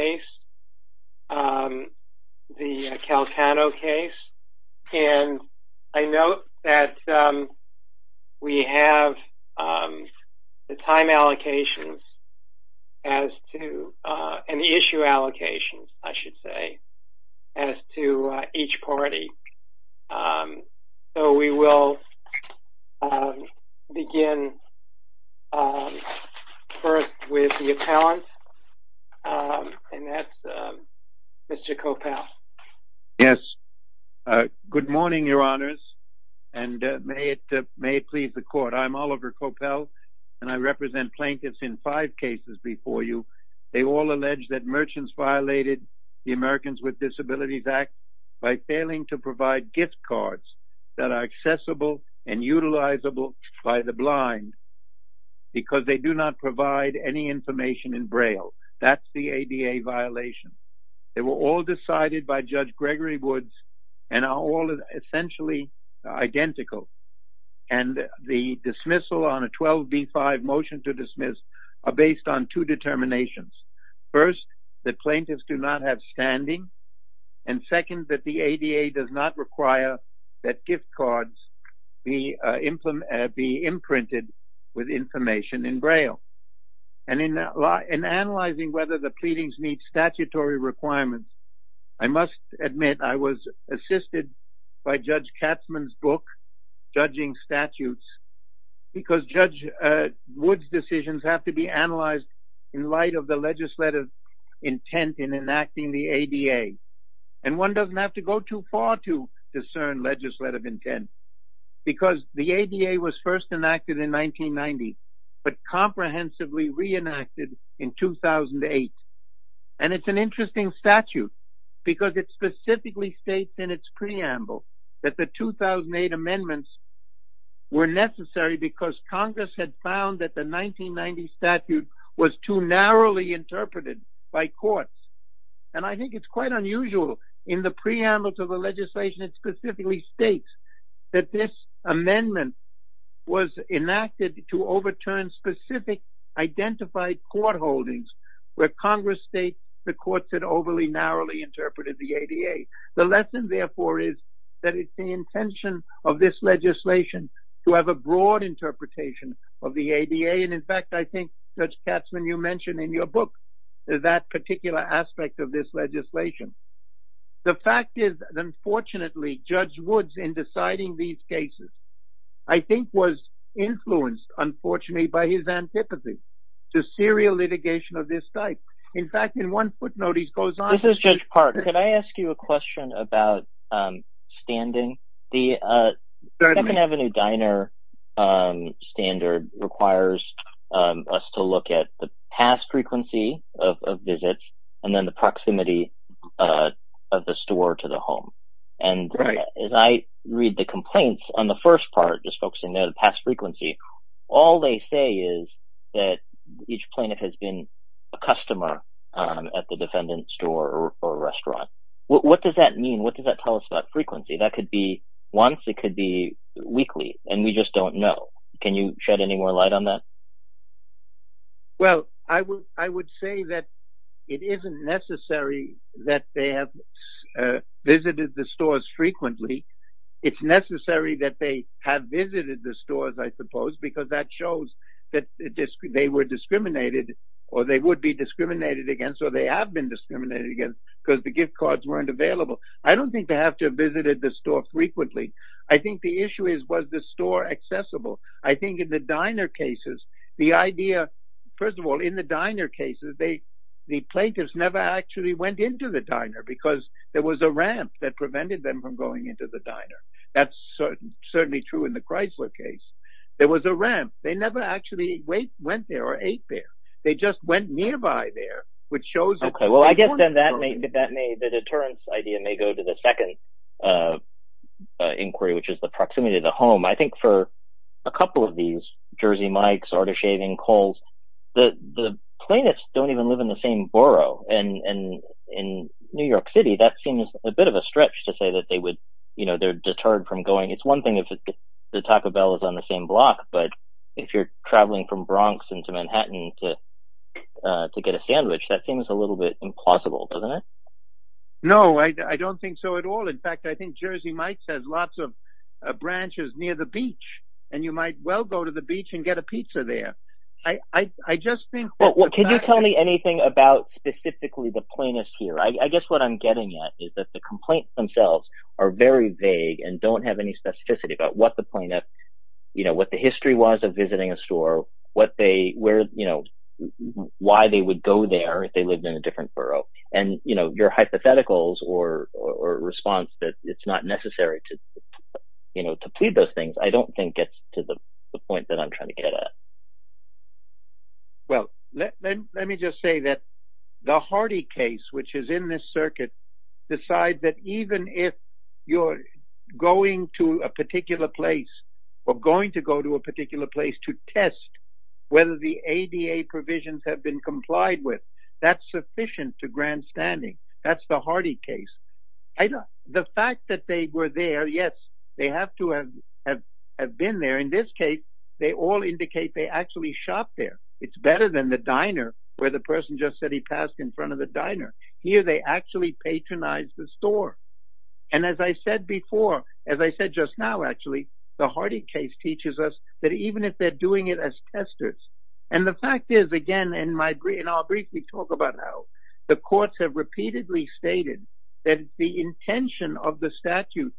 Calcano v. Swarovski North America Mr. Coppell. Yes. Good morning, your honors, and may it please the court. I'm Oliver Coppell and I represent plaintiffs in five cases before you. They all allege that merchants violated the Americans with Disabilities Act by failing to provide gift cards that are accessible and utilizable by the blind because they do not provide any information in Braille. That's the ADA violation. They were all decided by Judge Gregory Woods and are all essentially identical. And the dismissal on a 12 v. 5 motion to dismiss are based on two determinations. First, that plaintiffs do not have standing, and second, that the ADA does not require that gift cards be imprinted with information in Braille. And in analyzing whether the plaintiffs pleadings meet statutory requirements, I must admit I was assisted by Judge Katzmann's book, Judging Statutes, because Judge Woods' decisions have to be analyzed in light of the legislative intent in enacting the ADA. And one doesn't have to go too far to discern legislative intent, because the ADA was first enacted in 1990, but comprehensively reenacted in 2008. And it's an interesting statute, because it specifically states in its preamble that the 2008 amendments were necessary because Congress had found that the 1990 statute was too narrowly interpreted by courts. And I think it's quite unusual in the preamble to the legislation. It specifically states that this amendment was enacted to overturn specific identified court holdings where Congress states the courts had overly narrowly interpreted the ADA. The lesson, therefore, is that it's the intention of this legislation to have a broad interpretation of the ADA. And in fact, I think, Judge Katzmann, you mention in your book that particular aspect of this legislation. The fact is, unfortunately, Judge Woods, in deciding these cases, I think was influenced, unfortunately, by his antipathy to serial litigation of this type. In fact, in one footnote, he goes on to say- This is Judge Parker. Can I ask you a question about standing? The Second Avenue Diner standard requires us to look at the past frequency of visits, and then the proximity of the store to the home. And as I read the complaints on the first part, just focusing on the past frequency, all they say is that each plaintiff has been a customer at the defendant's store or restaurant. What does that mean? What does that tell us about frequency? That could be once, it could be weekly, and we just don't know. Can you shed any more light on that? Well, I would say that it isn't necessary that they have visited the stores frequently. It's necessary that they have visited the stores, I suppose, because that shows that they were discriminated, or they would be discriminated against, or they have been discriminated against, because the gift cards weren't available. I don't think they have to have visited the store The idea, first of all, in the diner cases, the plaintiffs never actually went into the diner, because there was a ramp that prevented them from going into the diner. That's certainly true in the Chrysler case. There was a ramp. They never actually went there or ate there. They just went nearby there, which shows that- Okay. Well, I guess then the deterrence idea may go to the second inquiry, which is the proximity to the home. I think for a couple of these, Jersey Mike's, Artichaving, Kohl's, the plaintiffs don't even live in the same borough. In New York City, that seems a bit of a stretch to say that they're deterred from going. It's one thing if the Taco Bell is on the same block, but if you're traveling from Bronx into Manhattan to get a sandwich, that seems a little bit implausible, doesn't it? No, I don't think so at all. In fact, I think Jersey Mike's has lots of branches near the beach, and you might well go to the beach and get a pizza there. I just think- Well, can you tell me anything about specifically the plaintiffs here? I guess what I'm getting at is that the complaints themselves are very vague and don't have any specificity about what the history was of visiting a store, why they would go there if they lived in a different borough, and your hypotheticals or response that it's not necessary to plead those things, I don't think gets to the point that I'm trying to get at. Well, let me just say that the Hardy case, which is in this circuit, decides that even if you're going to a particular place or going to go to a particular place to test whether the ADA provisions have been complied with, that's sufficient to grandstanding. That's the Hardy case. The fact that they were there, yes, they have to have been there. In this case, they all indicate they actually shopped there. It's better than the diner where the person just said he passed in front of the diner. Here, they actually patronized the store. As I said before, as I said just now, actually, the Hardy case teaches us that even if they're doing it as testers, and the fact is, again, and I'll briefly talk about how the courts have repeatedly stated that the intention of the statute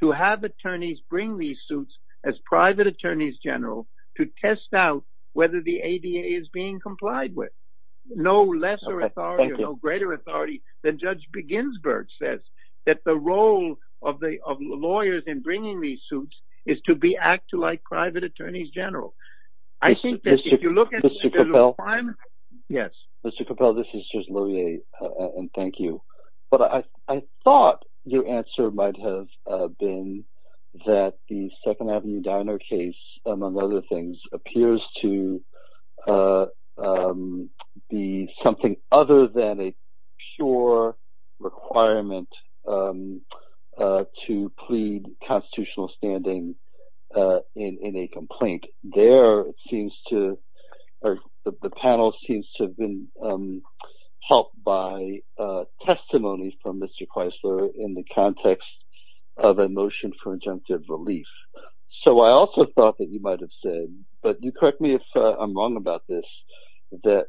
to have attorneys bring these suits as private attorneys general to test out whether the ADA is being complied with. No lesser authority, no greater authority than Judge Beginsburg says that the role of lawyers in bringing these suits is to act like private attorneys general. I think that the second Avenue diner case, among other things, appears to be something other than a pure requirement to plead constitutional standing in a complaint. There, it seems to, or the panel seems to have been helped by testimonies from Mr. Kreisler in the context of a motion for injunctive relief. So I also thought that you might have said, but you correct me if I'm wrong about this, that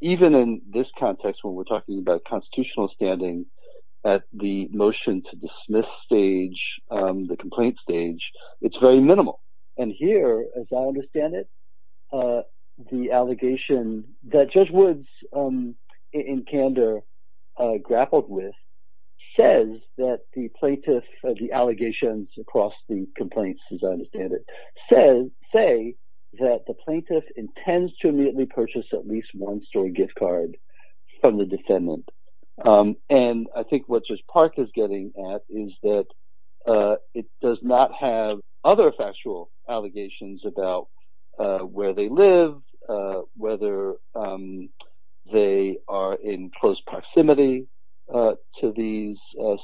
even in this context, when we're talking about constitutional standing at the motion to dismiss stage, the complaint stage, it's very minimal. And here, as I understand it, the allegation that Judge Woods in candor grappled with says that the plaintiff, the allegations across the complaints, as I understand it, say that the plaintiff intends to immediately purchase at least one story gift card from the defendant. And I think what Judge Park is getting at is that it does not have other factual allegations about where they live, whether they are in close proximity to these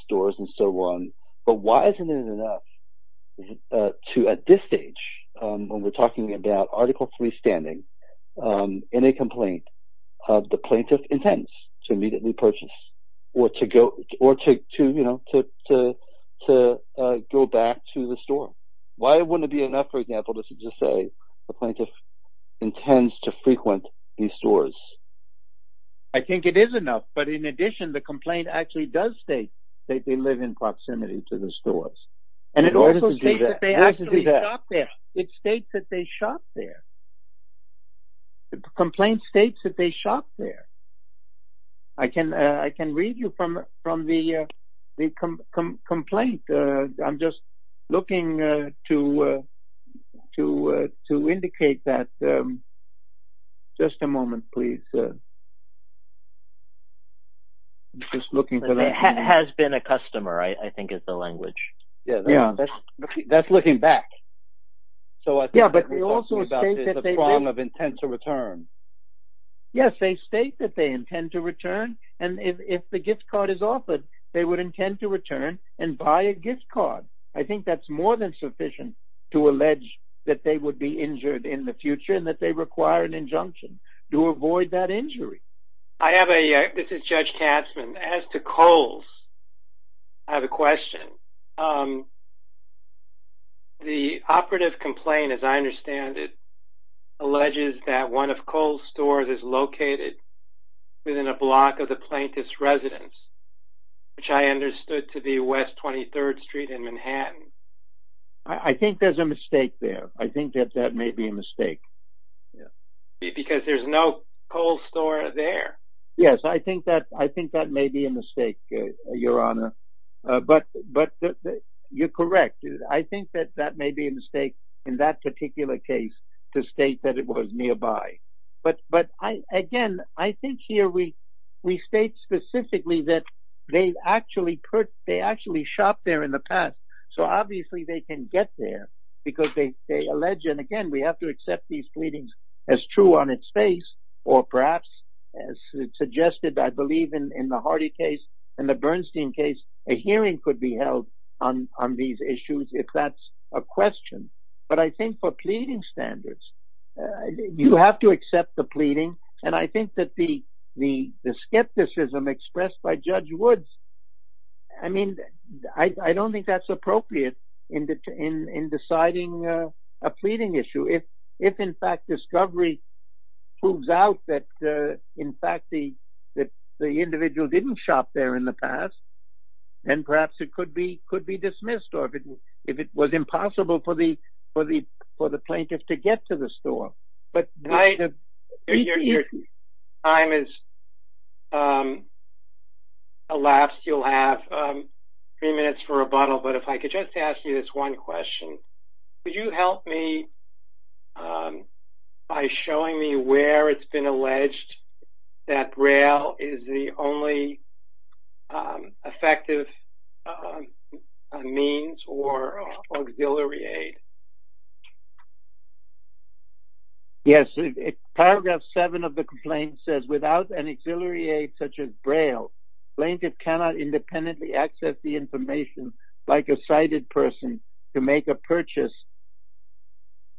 stores, and so on. But why isn't it enough to, at this stage, when we're talking about Article III standing in a complaint, of the plaintiff intends to immediately purchase, or to go back to the store? Why wouldn't it be enough, for example, to just say the plaintiff intends to frequent these stores? I think it is enough. But in addition, the complaint actually does state that they live in proximity to the stores. And it also states that they actually shop there. It states that they shop there. The complaint states that they shop there. I can read you from the complaint. I'm just looking to indicate that. Just a moment, please. I'm just looking for that. It has been a customer, I think, is the language. Yeah, that's looking back. Yeah, but it also states that they live... that they intend to return. And if the gift card is offered, they would intend to return and buy a gift card. I think that's more than sufficient to allege that they would be injured in the future, and that they require an injunction to avoid that injury. I have a... This is Judge Katzmann. As to Kohl's, I have a question. The operative complaint, as I understand it, alleges that one of Kohl's stores is located within a block of the plaintiff's residence, which I understood to be West 23rd Street in Manhattan. I think there's a mistake there. I think that that may be a mistake. Because there's no Kohl's store there. Yes, I think that may be a mistake, Your Honor. But you're correct. I think that that may be a mistake in that particular case to state that it was nearby. But again, I think here we state specifically that they actually shopped there in the past. So obviously, they can get there, because they allege, and again, we have to accept these pleadings as true on its face, or perhaps, as suggested, I believe, in the Hardy case, in the Bernstein case, a hearing could be held on these issues, if that's a question. But I think for you have to accept the pleading. And I think that the skepticism expressed by Judge Woods, I mean, I don't think that's appropriate in deciding a pleading issue. If, in fact, discovery proves out that, in fact, the individual didn't shop there in the past, then perhaps it could be dismissed, or if it was impossible for the plaintiff to get to the store. Your time has elapsed. You'll have three minutes for rebuttal. But if I could just ask you this one question. Would you help me by showing me where it's been alleged that Braille is the only effective means or auxiliary aid? Yes. Paragraph 7 of the complaint says, without an auxiliary aid such as Braille, plaintiff cannot independently access the information like a sighted person to make a purchase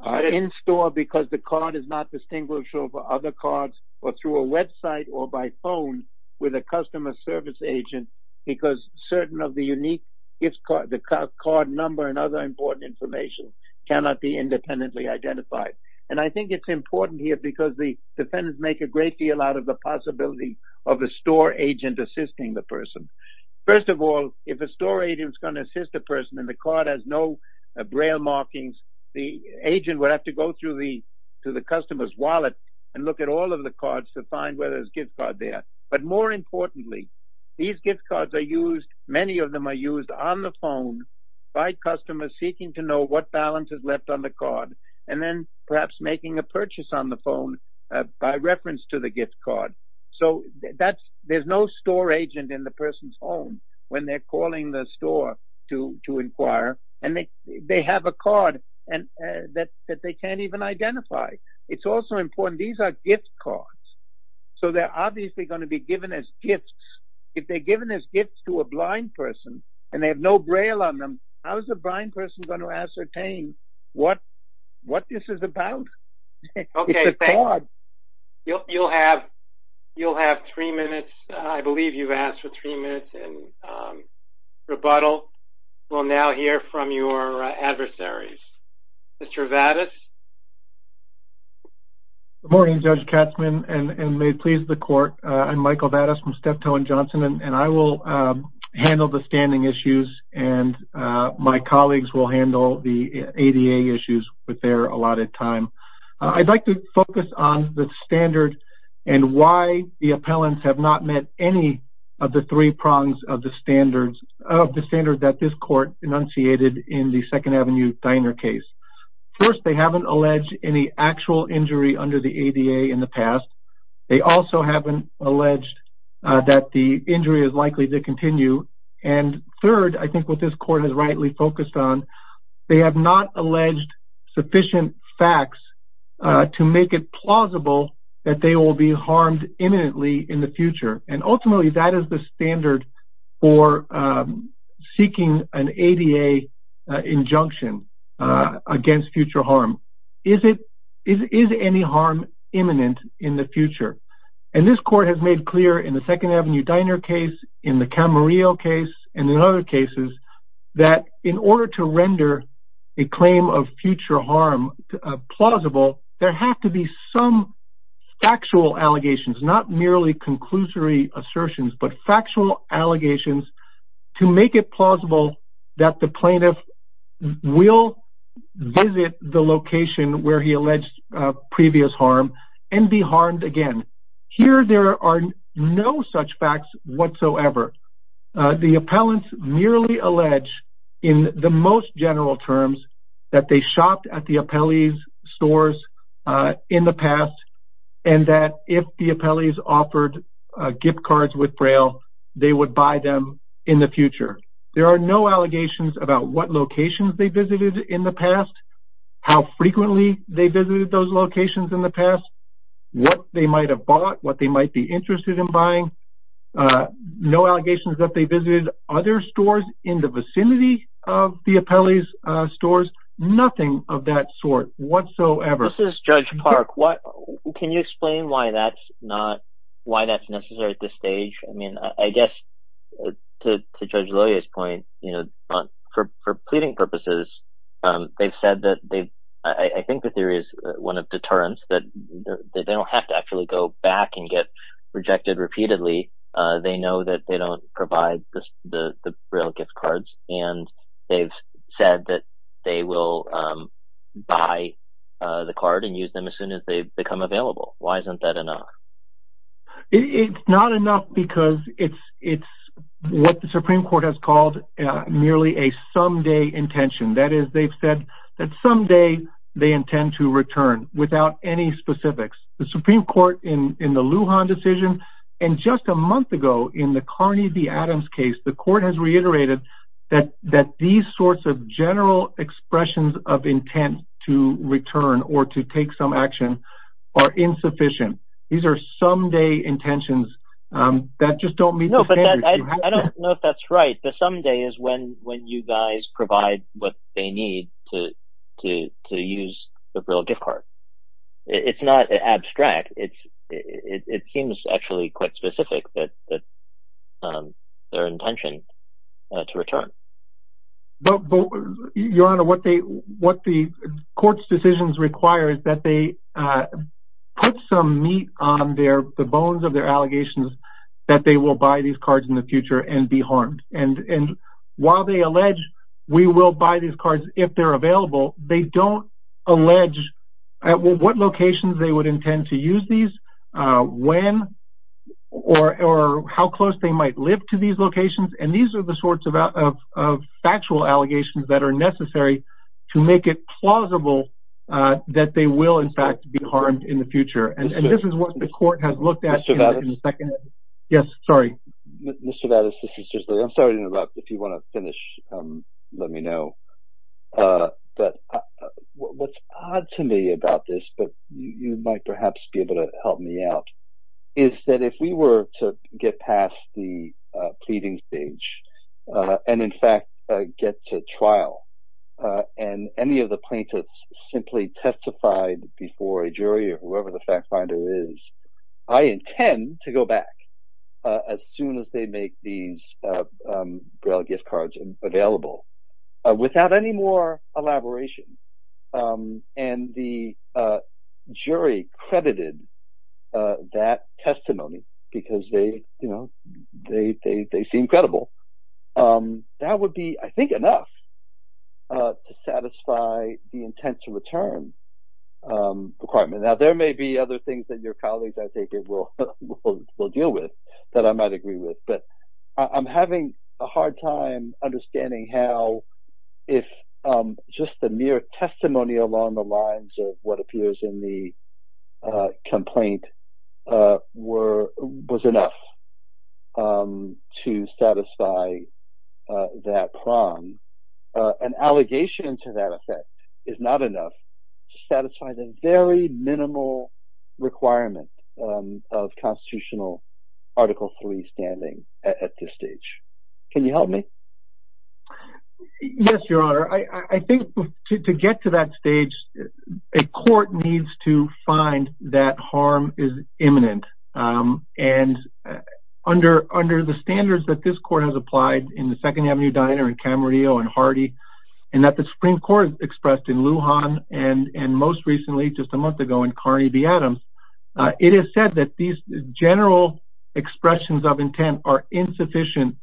in store because the card is not distinguishable for other cards or through a website or by phone with a customer service agent because certain of the unique gift card, the card number and other important information cannot be independently identified. And I think it's important here because the defendants make a great deal out of the possibility of a store agent assisting the person. First of all, if a store agent is going to assist a person and the Braille markings, the agent would have to go through the customer's wallet and look at all of the cards to find whether there's a gift card there. But more importantly, these gift cards are used, many of them are used on the phone by customers seeking to know what balance is left on the card and then perhaps making a purchase on the phone by reference to the gift card. So that's, there's no store agent in the person's home when they're calling the store to inquire and they have a card that they can't even identify. It's also important, these are gift cards. So they're obviously going to be given as gifts. If they're given as gifts to a blind person and they have no Braille on them, how is a blind person going to ascertain what this is about? It's a card. Okay, thank you. You'll have three minutes, I believe you've asked for three minutes. I'm going to go ahead and open it up to questions from your adversaries. Mr. Vadas? Good morning, Judge Katzman, and may it please the court. I'm Michael Vadas from Steptoe & Johnson and I will handle the standing issues and my colleagues will handle the ADA issues with their allotted time. I'd like to focus on the standard and why the appellants have not met any of the three prongs of the standards, of the standard that this court enunciated in the 2nd Avenue Diner case. First, they haven't alleged any actual injury under the ADA in the past. They also haven't alleged that the injury is likely to continue. And third, I think what this court has rightly focused on, they have not alleged sufficient facts to make it plausible that they will be harmed imminently in the future. And ultimately that is the standard for seeking an ADA injunction against future harm. Is any harm imminent in the future? And this court has made clear in the 2nd Avenue Diner case, in the Camarillo case, and in other cases, that in order to render a claim of future harm plausible, there have to be some factual allegations, not merely conclusory assertions, but factual allegations to make it plausible that the plaintiff will visit the location where he alleged previous harm and be harmed again. Here there are no such facts whatsoever. The appellants merely allege in the most general terms that they shopped at the appellee's stores in the past and that if the appellee's offered gift cards with Braille, they would buy them in the future. There are no allegations about what locations they visited in the past, how frequently they visited those locations in the past, what they might have bought, what they might be interested in buying. No allegations that they visited other stores in the vicinity of the appellee's stores. Nothing of that sort whatsoever. This is Judge Park. Can you explain why that's not, why that's necessary at this stage? I mean, I guess to Judge Loya's point, you know, for pleading purposes, they've said that they, I think the theory is one of deterrence, that they don't have to actually go back and get rejected repeatedly. They know that they don't provide the Braille gift cards and they've said that they will buy the card and use them as soon as they become available. Why isn't that enough? It's not enough because it's what the Supreme Court has called merely a someday intention. That is, they've said that someday they intend to return without any specifics. The Supreme Court in the Lujan decision and just a month ago in the Carney v. Adams case, the court has reiterated that these sorts of general expressions of intent to return or to take some action are insufficient. These are someday intentions that just don't meet the standards. No, but I don't know if that's right. The someday is when you guys provide what they need to use the Braille gift card. It's not abstract. It seems actually quite specific that their intention to return. Your Honor, what the court's decisions require is that they put some meat on the bones of their allegations that they will buy these cards in the future and be harmed. While they allege we will buy these cards if they're available, they don't allege at what locations they would intend to use these, when, or how close they might live to these locations. These are the sorts of factual allegations that are necessary to make it plausible that they will in fact be harmed in the future. This is what the want to finish, let me know. What's odd to me about this, but you might perhaps be able to help me out, is that if we were to get past the pleading stage and in fact get to trial and any of the plaintiffs simply testified before a jury or Braille gift cards available without any more elaboration, and the jury credited that testimony because they seem credible, that would be, I think, enough to satisfy the intent to return requirement. Now, there may be other things that your colleagues, I think, will deal with that I might agree with, but I'm having a hard time understanding how if just the mere testimony along the lines of what appears in the complaint was enough to satisfy that prong, an allegation to that reasonable requirement of constitutional Article III standing at this stage. Can you help me? Yes, Your Honor. I think to get to that stage, a court needs to find that harm is imminent, and under the standards that this court has applied in the Second Avenue Diner in Camarillo and Hardy, and that the Supreme Court expressed in Lujan and most recently, just a month ago, in Carney v. Adams, it is said that these general expressions of intent are insufficient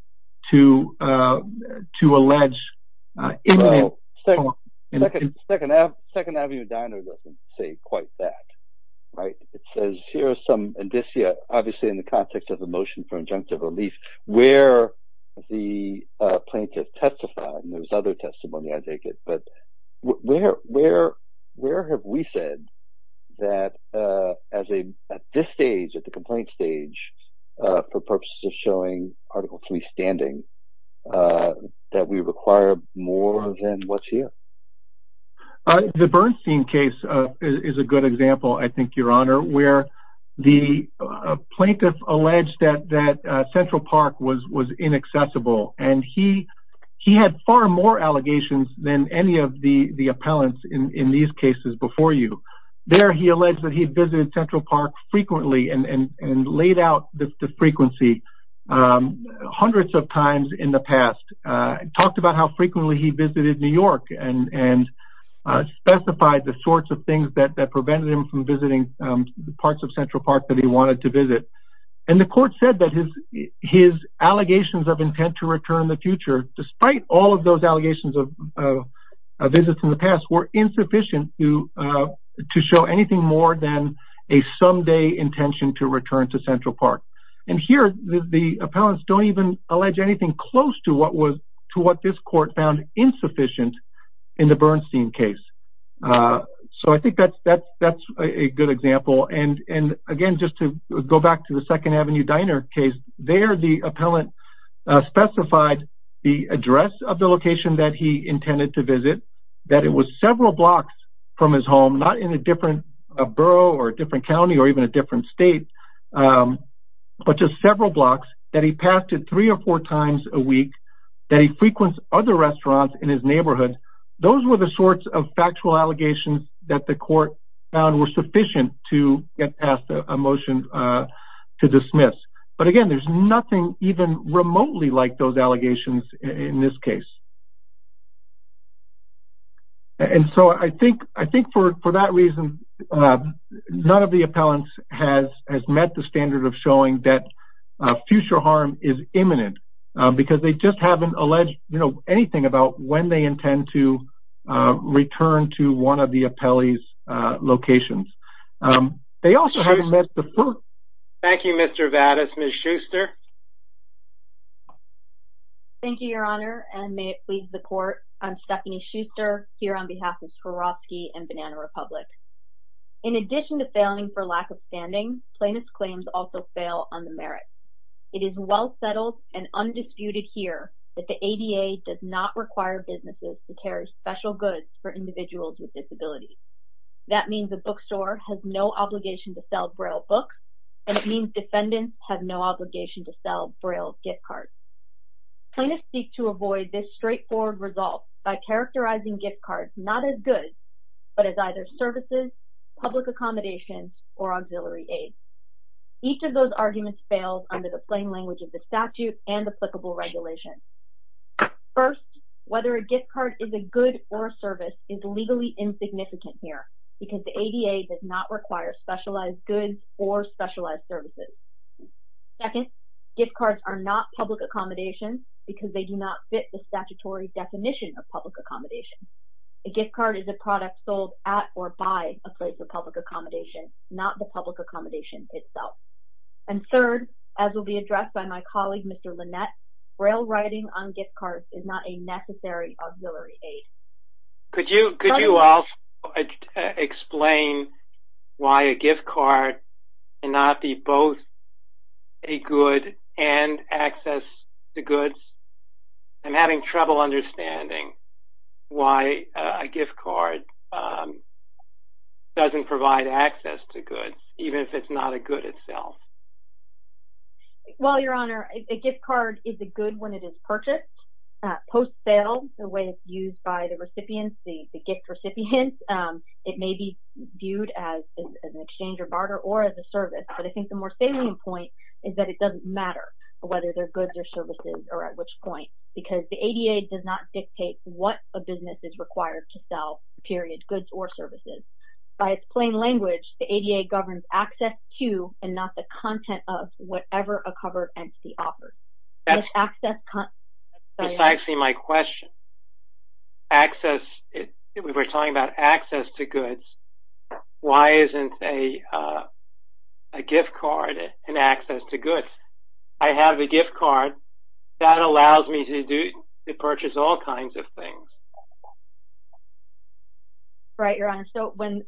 to allege imminent harm. Second Avenue Diner doesn't say quite that, right? It says here are some indicia, obviously in the context of the motion for that at this stage, at the complaint stage, for purposes of showing Article III standing, that we require more than what's here. The Bernstein case is a good example, I think, Your Honor, where the plaintiff alleged that Central Park was inaccessible, and he had far more allegations than any of the appellants in these cases before you. There he alleged that he visited Central Park frequently and laid out the frequency hundreds of times in the past, talked about how frequently he visited New York, and specified the sorts of things that prevented him from visiting the parts of Central Park that he wanted to visit. And the court said that his allegations of visits in the past were insufficient to show anything more than a someday intention to return to Central Park. And here, the appellants don't even allege anything close to what this court found insufficient in the Bernstein case. So I think that's a good example. And again, just to go back to the 2nd Avenue Diner case, there the appellant specified the address of the location that he intended to visit, that it was several blocks from his home, not in a different borough or a different county or even a different state, but just several blocks, that he passed it three or four times a week, that he frequented other restaurants in his neighborhood. Those were the sorts of things that prevented him from getting past a motion to dismiss. But again, there's nothing even remotely like those allegations in this case. And so I think for that reason, none of the appellants has met the standard of showing that future harm is imminent, because they just haven't alleged anything about when they intend to return to one of the appellee's locations. They also haven't met the... Thank you, Mr. Vadas. Ms. Schuster? Thank you, Your Honor, and may it please the court. I'm Stephanie Schuster, here on behalf of Swarovski and Banana Republic. In addition to failing for the ADA does not require businesses to carry special goods for individuals with disabilities. That means a bookstore has no obligation to sell Braille books, and it means defendants have no obligation to sell Braille gift cards. Plaintiffs seek to avoid this straightforward result by characterizing gift cards not as goods, but as services, public accommodations, or auxiliary aid. Each of those arguments fails under the plain language of the statute and applicable regulations. First, whether a gift card is a good or a service is legally insignificant here, because the ADA does not require specialized goods or specialized services. Second, gift cards are not public accommodations, because they do not fit the statutory definition of public accommodation. A gift card is a product sold at or by a place of public accommodation, not the public accommodation itself. And third, as will be addressed by my colleague, Mr. Lynette, Braille writing on gift cards is not a necessary auxiliary aid. Could you also explain why a gift card cannot be both a good and access to goods? I'm having trouble understanding why a gift card doesn't provide access to goods, even if it's not a good itself. Well, Your Honor, a gift card is a good when it is purchased. Post-sale, the way it's used by the recipients, the gift recipients, it may be viewed as an exchange or barter or as a service, but I think the more salient point is that it doesn't matter whether they're goods or services or at which point, because the ADA does not dictate what a good is and not the content of whatever a covered entity offers. That's actually my question. We were talking about access to goods. Why isn't a gift card an access to goods? I have a gift card that allows me to purchase all kinds of things. Right, Your Honor. So when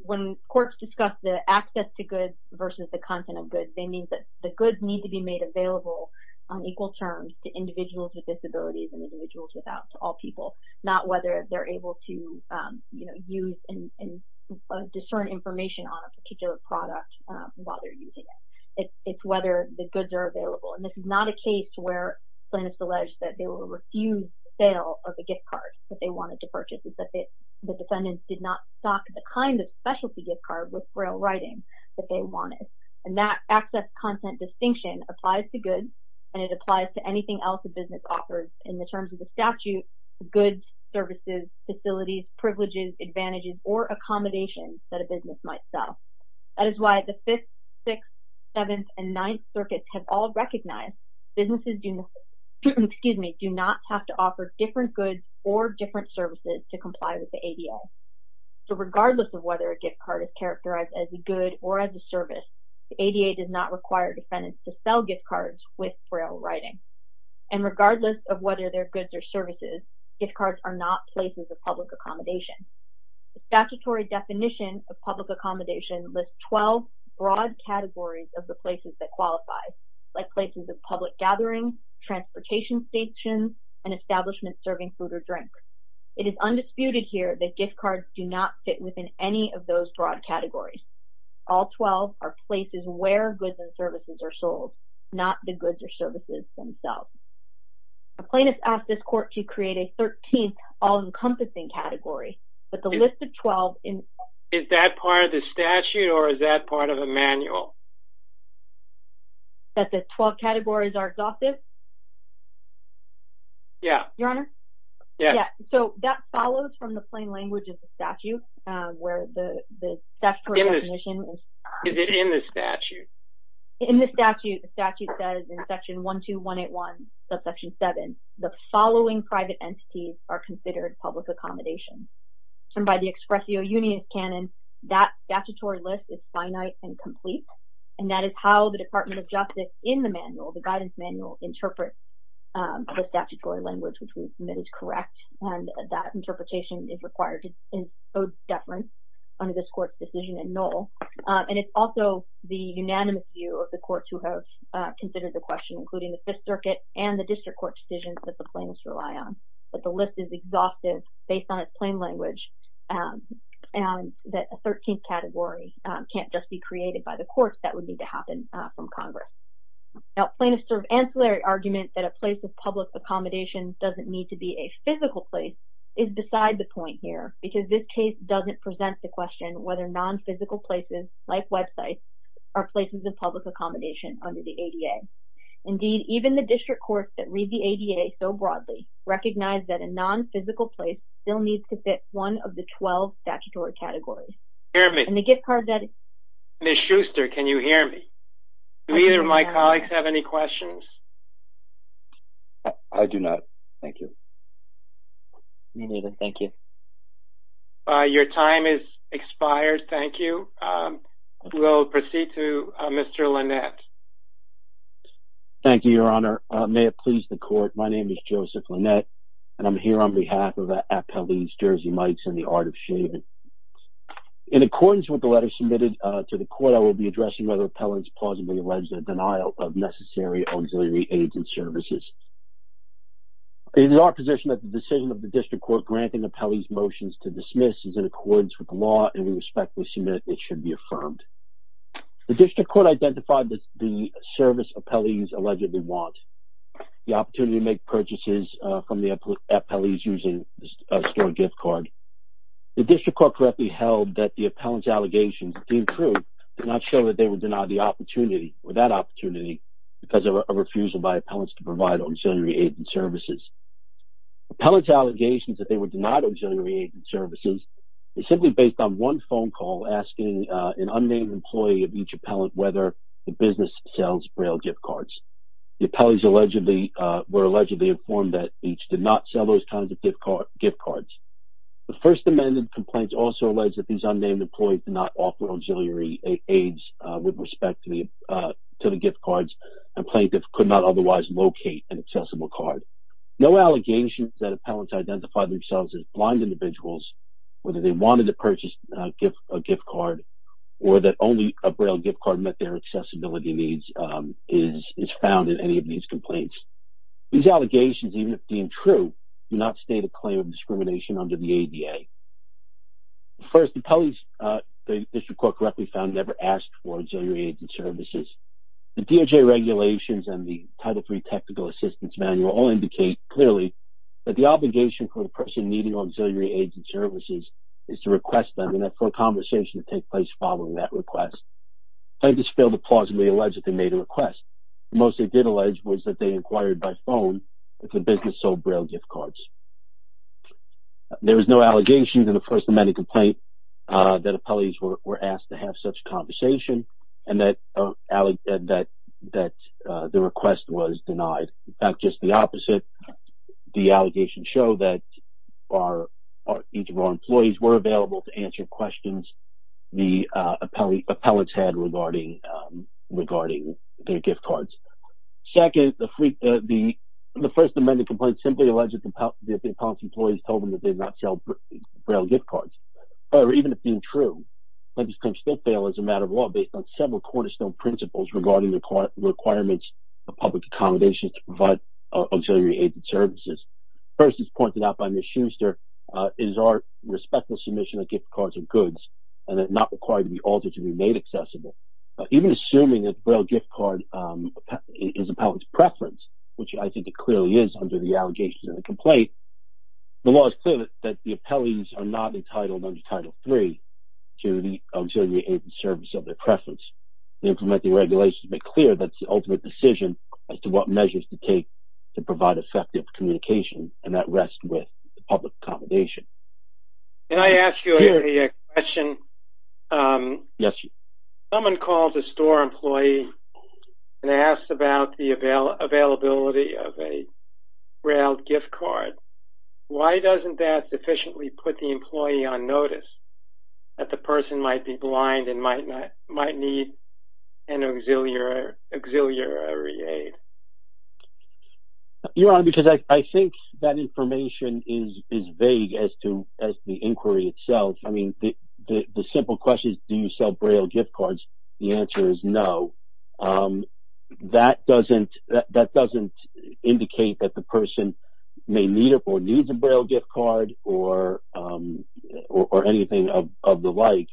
courts discuss the access to goods versus the content of goods, they mean that the goods need to be made available on equal terms to individuals with disabilities and individuals without, to all people, not whether they're able to use and discern information on a particular product while they're using it. It's whether the goods are available. And this is not a case where plaintiffs allege that they will refuse the sale of the gift card that they wanted to purchase. It's that the defendants did not stock the kind of specialty gift card with braille writing that they wanted. And that access-content distinction applies to goods, and it applies to anything else a business offers in the terms of the statute, goods, services, facilities, privileges, advantages, or accommodations that a business might sell. That is why the 5th, 6th, 7th, and 9th circuits have all recognized businesses do not have to offer different goods or different services to comply with the ADA. So regardless of whether a gift card is characterized as a good or as a service, the ADA does not require defendants to sell gift cards with braille writing. And regardless of whether they're goods or services, gift cards are not places of public accommodation. The statutory definition of public accommodation lists 12 broad categories of the places that qualify, like places of public gathering, transportation stations, and establishments serving food or drink. It is undisputed here that gift cards do not fit within any of those broad categories. All 12 are places where goods and services are sold, not the goods or services themselves. The plaintiffs asked this court to create a 13th all-encompassing category, but the list of 12 in… Is that part of the statute, or is that part of a manual? That the 12 categories are exhaustive? Yeah. Your Honor? Yes. So that follows from the plain language of the statute, where the statutory definition… Is it in the statute? In the statute, the statute says in Section 12181, subsection 7, the following private entities are considered public accommodation. And by the expressio unius canon, that statutory list is finite and complete, and that is how the Department of Justice, in the manual, the guidance manual, interprets the statutory language, which we've submitted to correct. And that interpretation is required to encode deference under this court's decision in null. And it's also the unanimous view of the courts who have considered the question, including the Fifth Circuit and the district court decisions that the plaintiffs rely on. But the list is exhaustive based on its plain language, and that a 13th category can't just be created by the courts. That would need to happen from Congress. Now, plaintiffs' ancillary argument that a place of public accommodation doesn't need to be a physical place is beside the point here. Because this case doesn't present the question whether non-physical places, like websites, are places of public accommodation under the ADA. Indeed, even the district courts that read the ADA so broadly recognize that a non-physical place still needs to fit one of the 12 statutory categories. Ms. Schuster, can you hear me? Do either of my colleagues have any questions? I do not. Thank you. Me neither. Thank you. Your time has expired. Thank you. We'll proceed to Mr. Lynette. Thank you, Your Honor. May it please the court, my name is Joseph Lynette, and I'm here on behalf of Appellee's Jersey Mike's and the Art of Shaving. In accordance with the letter submitted to the court, I will be addressing whether appellants plausibly allege the denial of necessary auxiliary aids and services. It is our position that the decision of the district court granting appellees' motions to dismiss is in accordance with the law, and we respectfully submit it should be affirmed. The district court identified the service appellees allegedly want, the opportunity to make purchases from the appellees using a store gift card. The district court correctly held that the appellant's allegations deemed true did not show that they would deny the opportunity or that opportunity because of a refusal by appellants to provide auxiliary aids and services. Appellant's allegations that they would deny auxiliary aids and services is simply based on one phone call asking an unnamed employee of each appellant whether the business sells Braille gift cards. The appellees were allegedly informed that each did not sell those kinds of gift cards. The First Amendment complaint also alleged that these unnamed employees did not offer auxiliary aids with respect to the gift cards, and plaintiffs could not otherwise locate an accessible card. No allegations that appellants identified themselves as blind individuals, whether they wanted to purchase a gift card, or that only a Braille gift card met their accessibility needs is found in any of these complaints. These allegations, even if deemed true, do not state a claim of discrimination under the ADA. First, appellees, the district court correctly found, never asked for auxiliary aids and services. The DOJ regulations and the Title III Technical Assistance Manual all indicate clearly that the obligation for the person needing auxiliary aids and services is to request them and for a conversation to take place following that request. Plaintiffs failed to plausibly allege that they made a request. The most they did allege was that they inquired by phone if the business sold Braille gift cards. There is no allegation in the First Amendment complaint that appellees were asked to have such a conversation and that the request was denied. In fact, just the opposite, the allegations show that each of our employees were available to answer questions the appellants had regarding their gift cards. Second, the First Amendment complaint simply alleges that the appellant's employees told them that they did not sell Braille gift cards. However, even if deemed true, plaintiffs can still fail as a matter of law based on several cornerstone principles regarding the requirements of public accommodations to provide auxiliary aids and services. First, as pointed out by Ms. Schuster, it is our respectful submission that gift cards are goods and are not required to be altered to be made accessible. Even assuming that the Braille gift card is the appellant's preference, which I think it clearly is under the allegations in the complaint, the law is clear that the appellees are not entitled under Title III to the auxiliary aids and services of their preference. The implementing regulations make clear that's the ultimate decision as to what measures to take to provide effective communication and that rests with public accommodation. Can I ask you a question? Yes. Someone calls a store employee and asks about the availability of a Braille gift card. Why doesn't that sufficiently put the employee on notice that the person might be blind and might need an auxiliary aid? Your Honor, because I think that information is vague as to the inquiry itself. I mean, the simple question is do you sell Braille gift cards? The answer is no. That doesn't indicate that the person may need or needs a Braille gift card or anything of the like.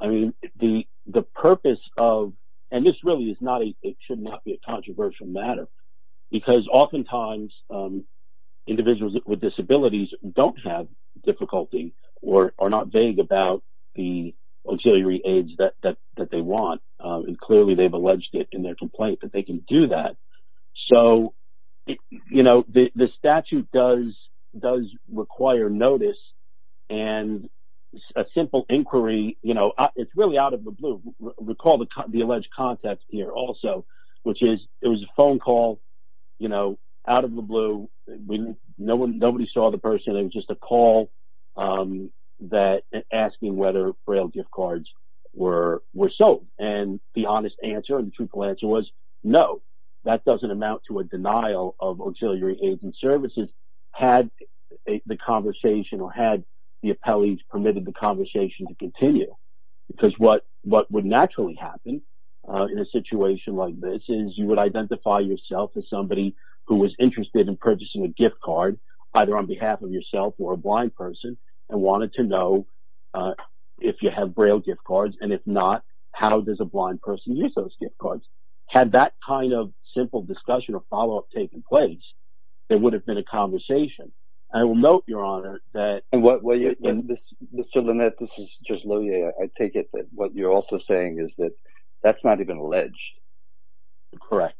I mean, the purpose of, and this really should not be a controversial matter, because oftentimes individuals with disabilities don't have difficulty or are not vague about the auxiliary aids that they want. Clearly, they've alleged it in their complaint that they can do that. So, you know, the statute does require notice and a simple inquiry, you know, it's really out of the blue. Recall the alleged context here also, which is it was a phone call, you know, out of the blue. Nobody saw the person. It was just a call asking whether Braille gift cards were sold. And the honest answer and the truthful answer was no. That doesn't amount to a denial of auxiliary aids and services had the conversation or had the appellees permitted the conversation to continue. Because what would naturally happen in a situation like this is you would identify yourself as somebody who was interested in purchasing a gift card, either on behalf of yourself or a blind person, and wanted to know if you have Braille gift cards, and if not, how does a blind person use those gift cards. Had that kind of simple discussion or follow-up taken place, there would have been a conversation. I will note, Your Honor, that... And what, well, Mr. Linnett, this is just low-yay. I take it that what you're also saying is that that's not even alleged. Correct.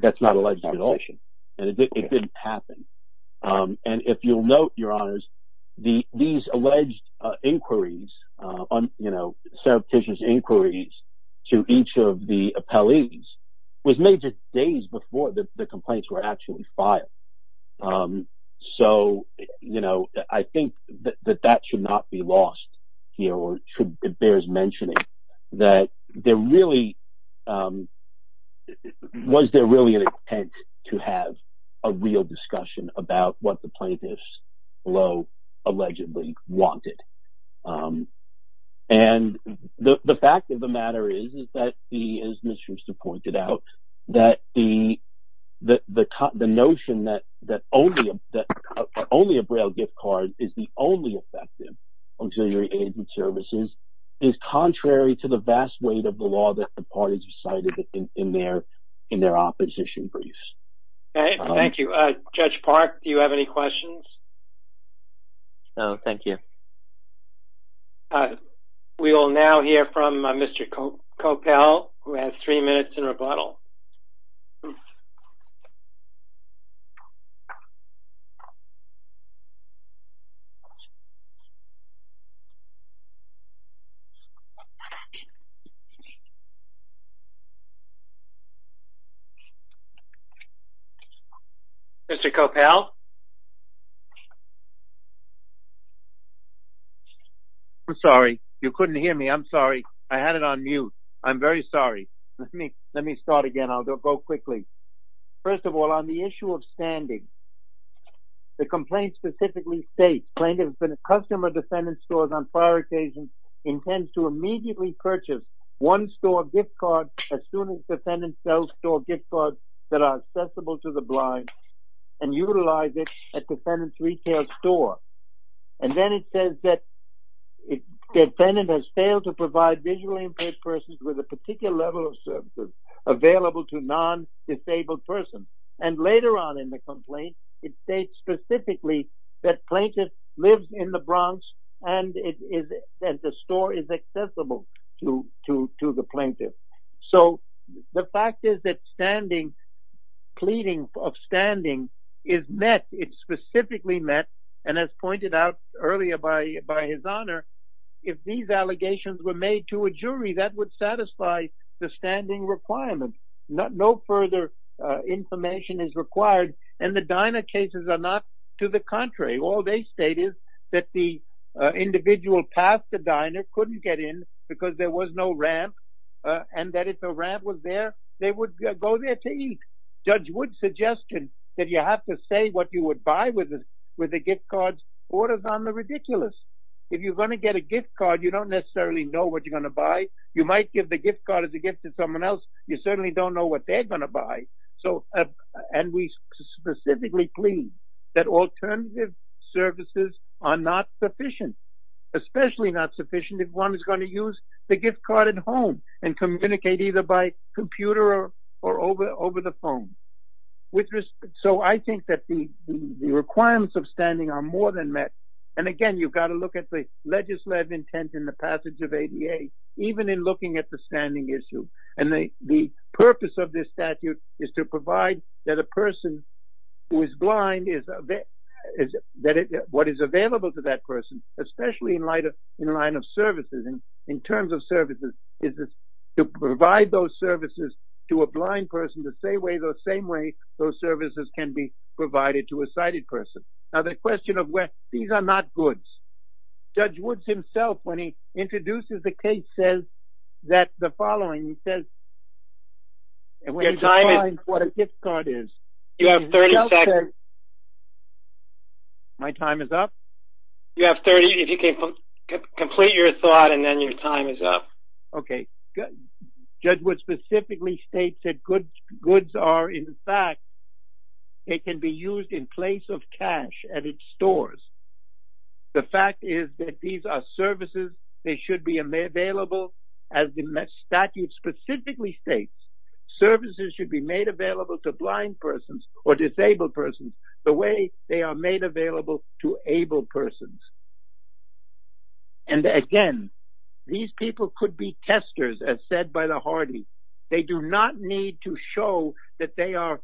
That's not alleged at all. And it didn't happen. And if you'll note, Your Honors, these alleged inquiries, you know, surreptitious inquiries to each of the appellees was made just days before the complaints were actually filed. So, you know, I think that that should not be lost here. It bears mentioning that there really... Was there really an intent to have a real discussion about what the plaintiffs, although allegedly wanted? And the fact of the matter is that, as Mr. Brewster pointed out, that the notion that only a Braille gift card is the only effective auxiliary agent services is contrary to the vast weight of the law that the parties recited in their opposition briefs. Thank you. Judge Park, do you have any questions? No, thank you. We will now hear from Mr. Coppell, who has three minutes in rebuttal. Mr. Coppell? I'm sorry. You couldn't hear me. I'm sorry. I had it on mute. I'm very sorry. Let me start again. I'll go quickly. First of all, on the issue of standing, the complaint specifically states, plaintiff has been a customer of defendant's stores on prior occasions, intends to immediately purchase one store gift card as soon as defendants sell store gift cards that are accessible to the blind and utilize it at defendant's retail store. And then it says that defendant has failed to provide visually impaired persons with a particular level of services available to non-disabled persons. And later on in the complaint, it states specifically that plaintiff lives in the Bronx and the store is accessible to the plaintiff. So the fact is that standing, pleading of standing is met, it's specifically met, and as pointed out earlier by His Honor, if these allegations were made to a jury, that would satisfy the standing requirement. No further information is required, and the diner cases are not to the contrary. All they state is that the individual passed the diner, couldn't get in because there was no ramp, and that if the ramp was there, they would go there to eat. Judge Wood's suggestion that you have to say what you would buy with a gift card orders on the ridiculous. If you're going to get a gift card, you don't necessarily know what you're going to buy. You might give the gift card as a gift to someone else. You certainly don't know what they're going to buy. And we specifically plead that alternative services are not sufficient, especially not sufficient if one is going to use the gift card at home and communicate either by computer or over the phone. So I think that the requirements of standing are more than met. And again, you've got to look at the legislative intent in the passage of ADA, even in looking at the standing issue. And the purpose of this statute is to provide that a person who is blind, what is available to that person, especially in line of services, in terms of services, is to provide those services to a blind person the same way those services can be provided to a sighted person. Now the question of where these are not goods. Judge Woods himself, when he introduces the case, says that the following. He says, and when he defines what a gift card is. You have 30 seconds. My time is up? You have 30 if you can complete your thought and then your time is up. Okay. Judge Woods specifically states that goods are, in fact, they can be used in place of cash at its stores. The fact is that these are services. They should be available as the statute specifically states. Services should be made available to blind persons or disabled persons the way they are made available to able persons. And, again, these people could be testers, as said by the hardy. They do not need to show that they are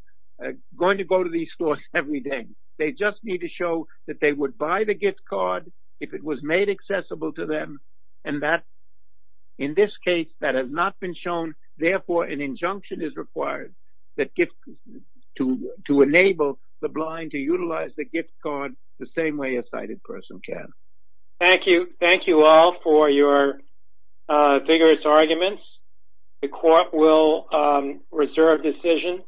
going to go to these stores every day. They just need to show that they would buy the gift card if it was made accessible to them. And that, in this case, that has not been shown. Therefore, an injunction is required to enable the blind to utilize the gift card the same way a sighted person can. Thank you. Thank you all for your vigorous arguments. The court will reserve decision.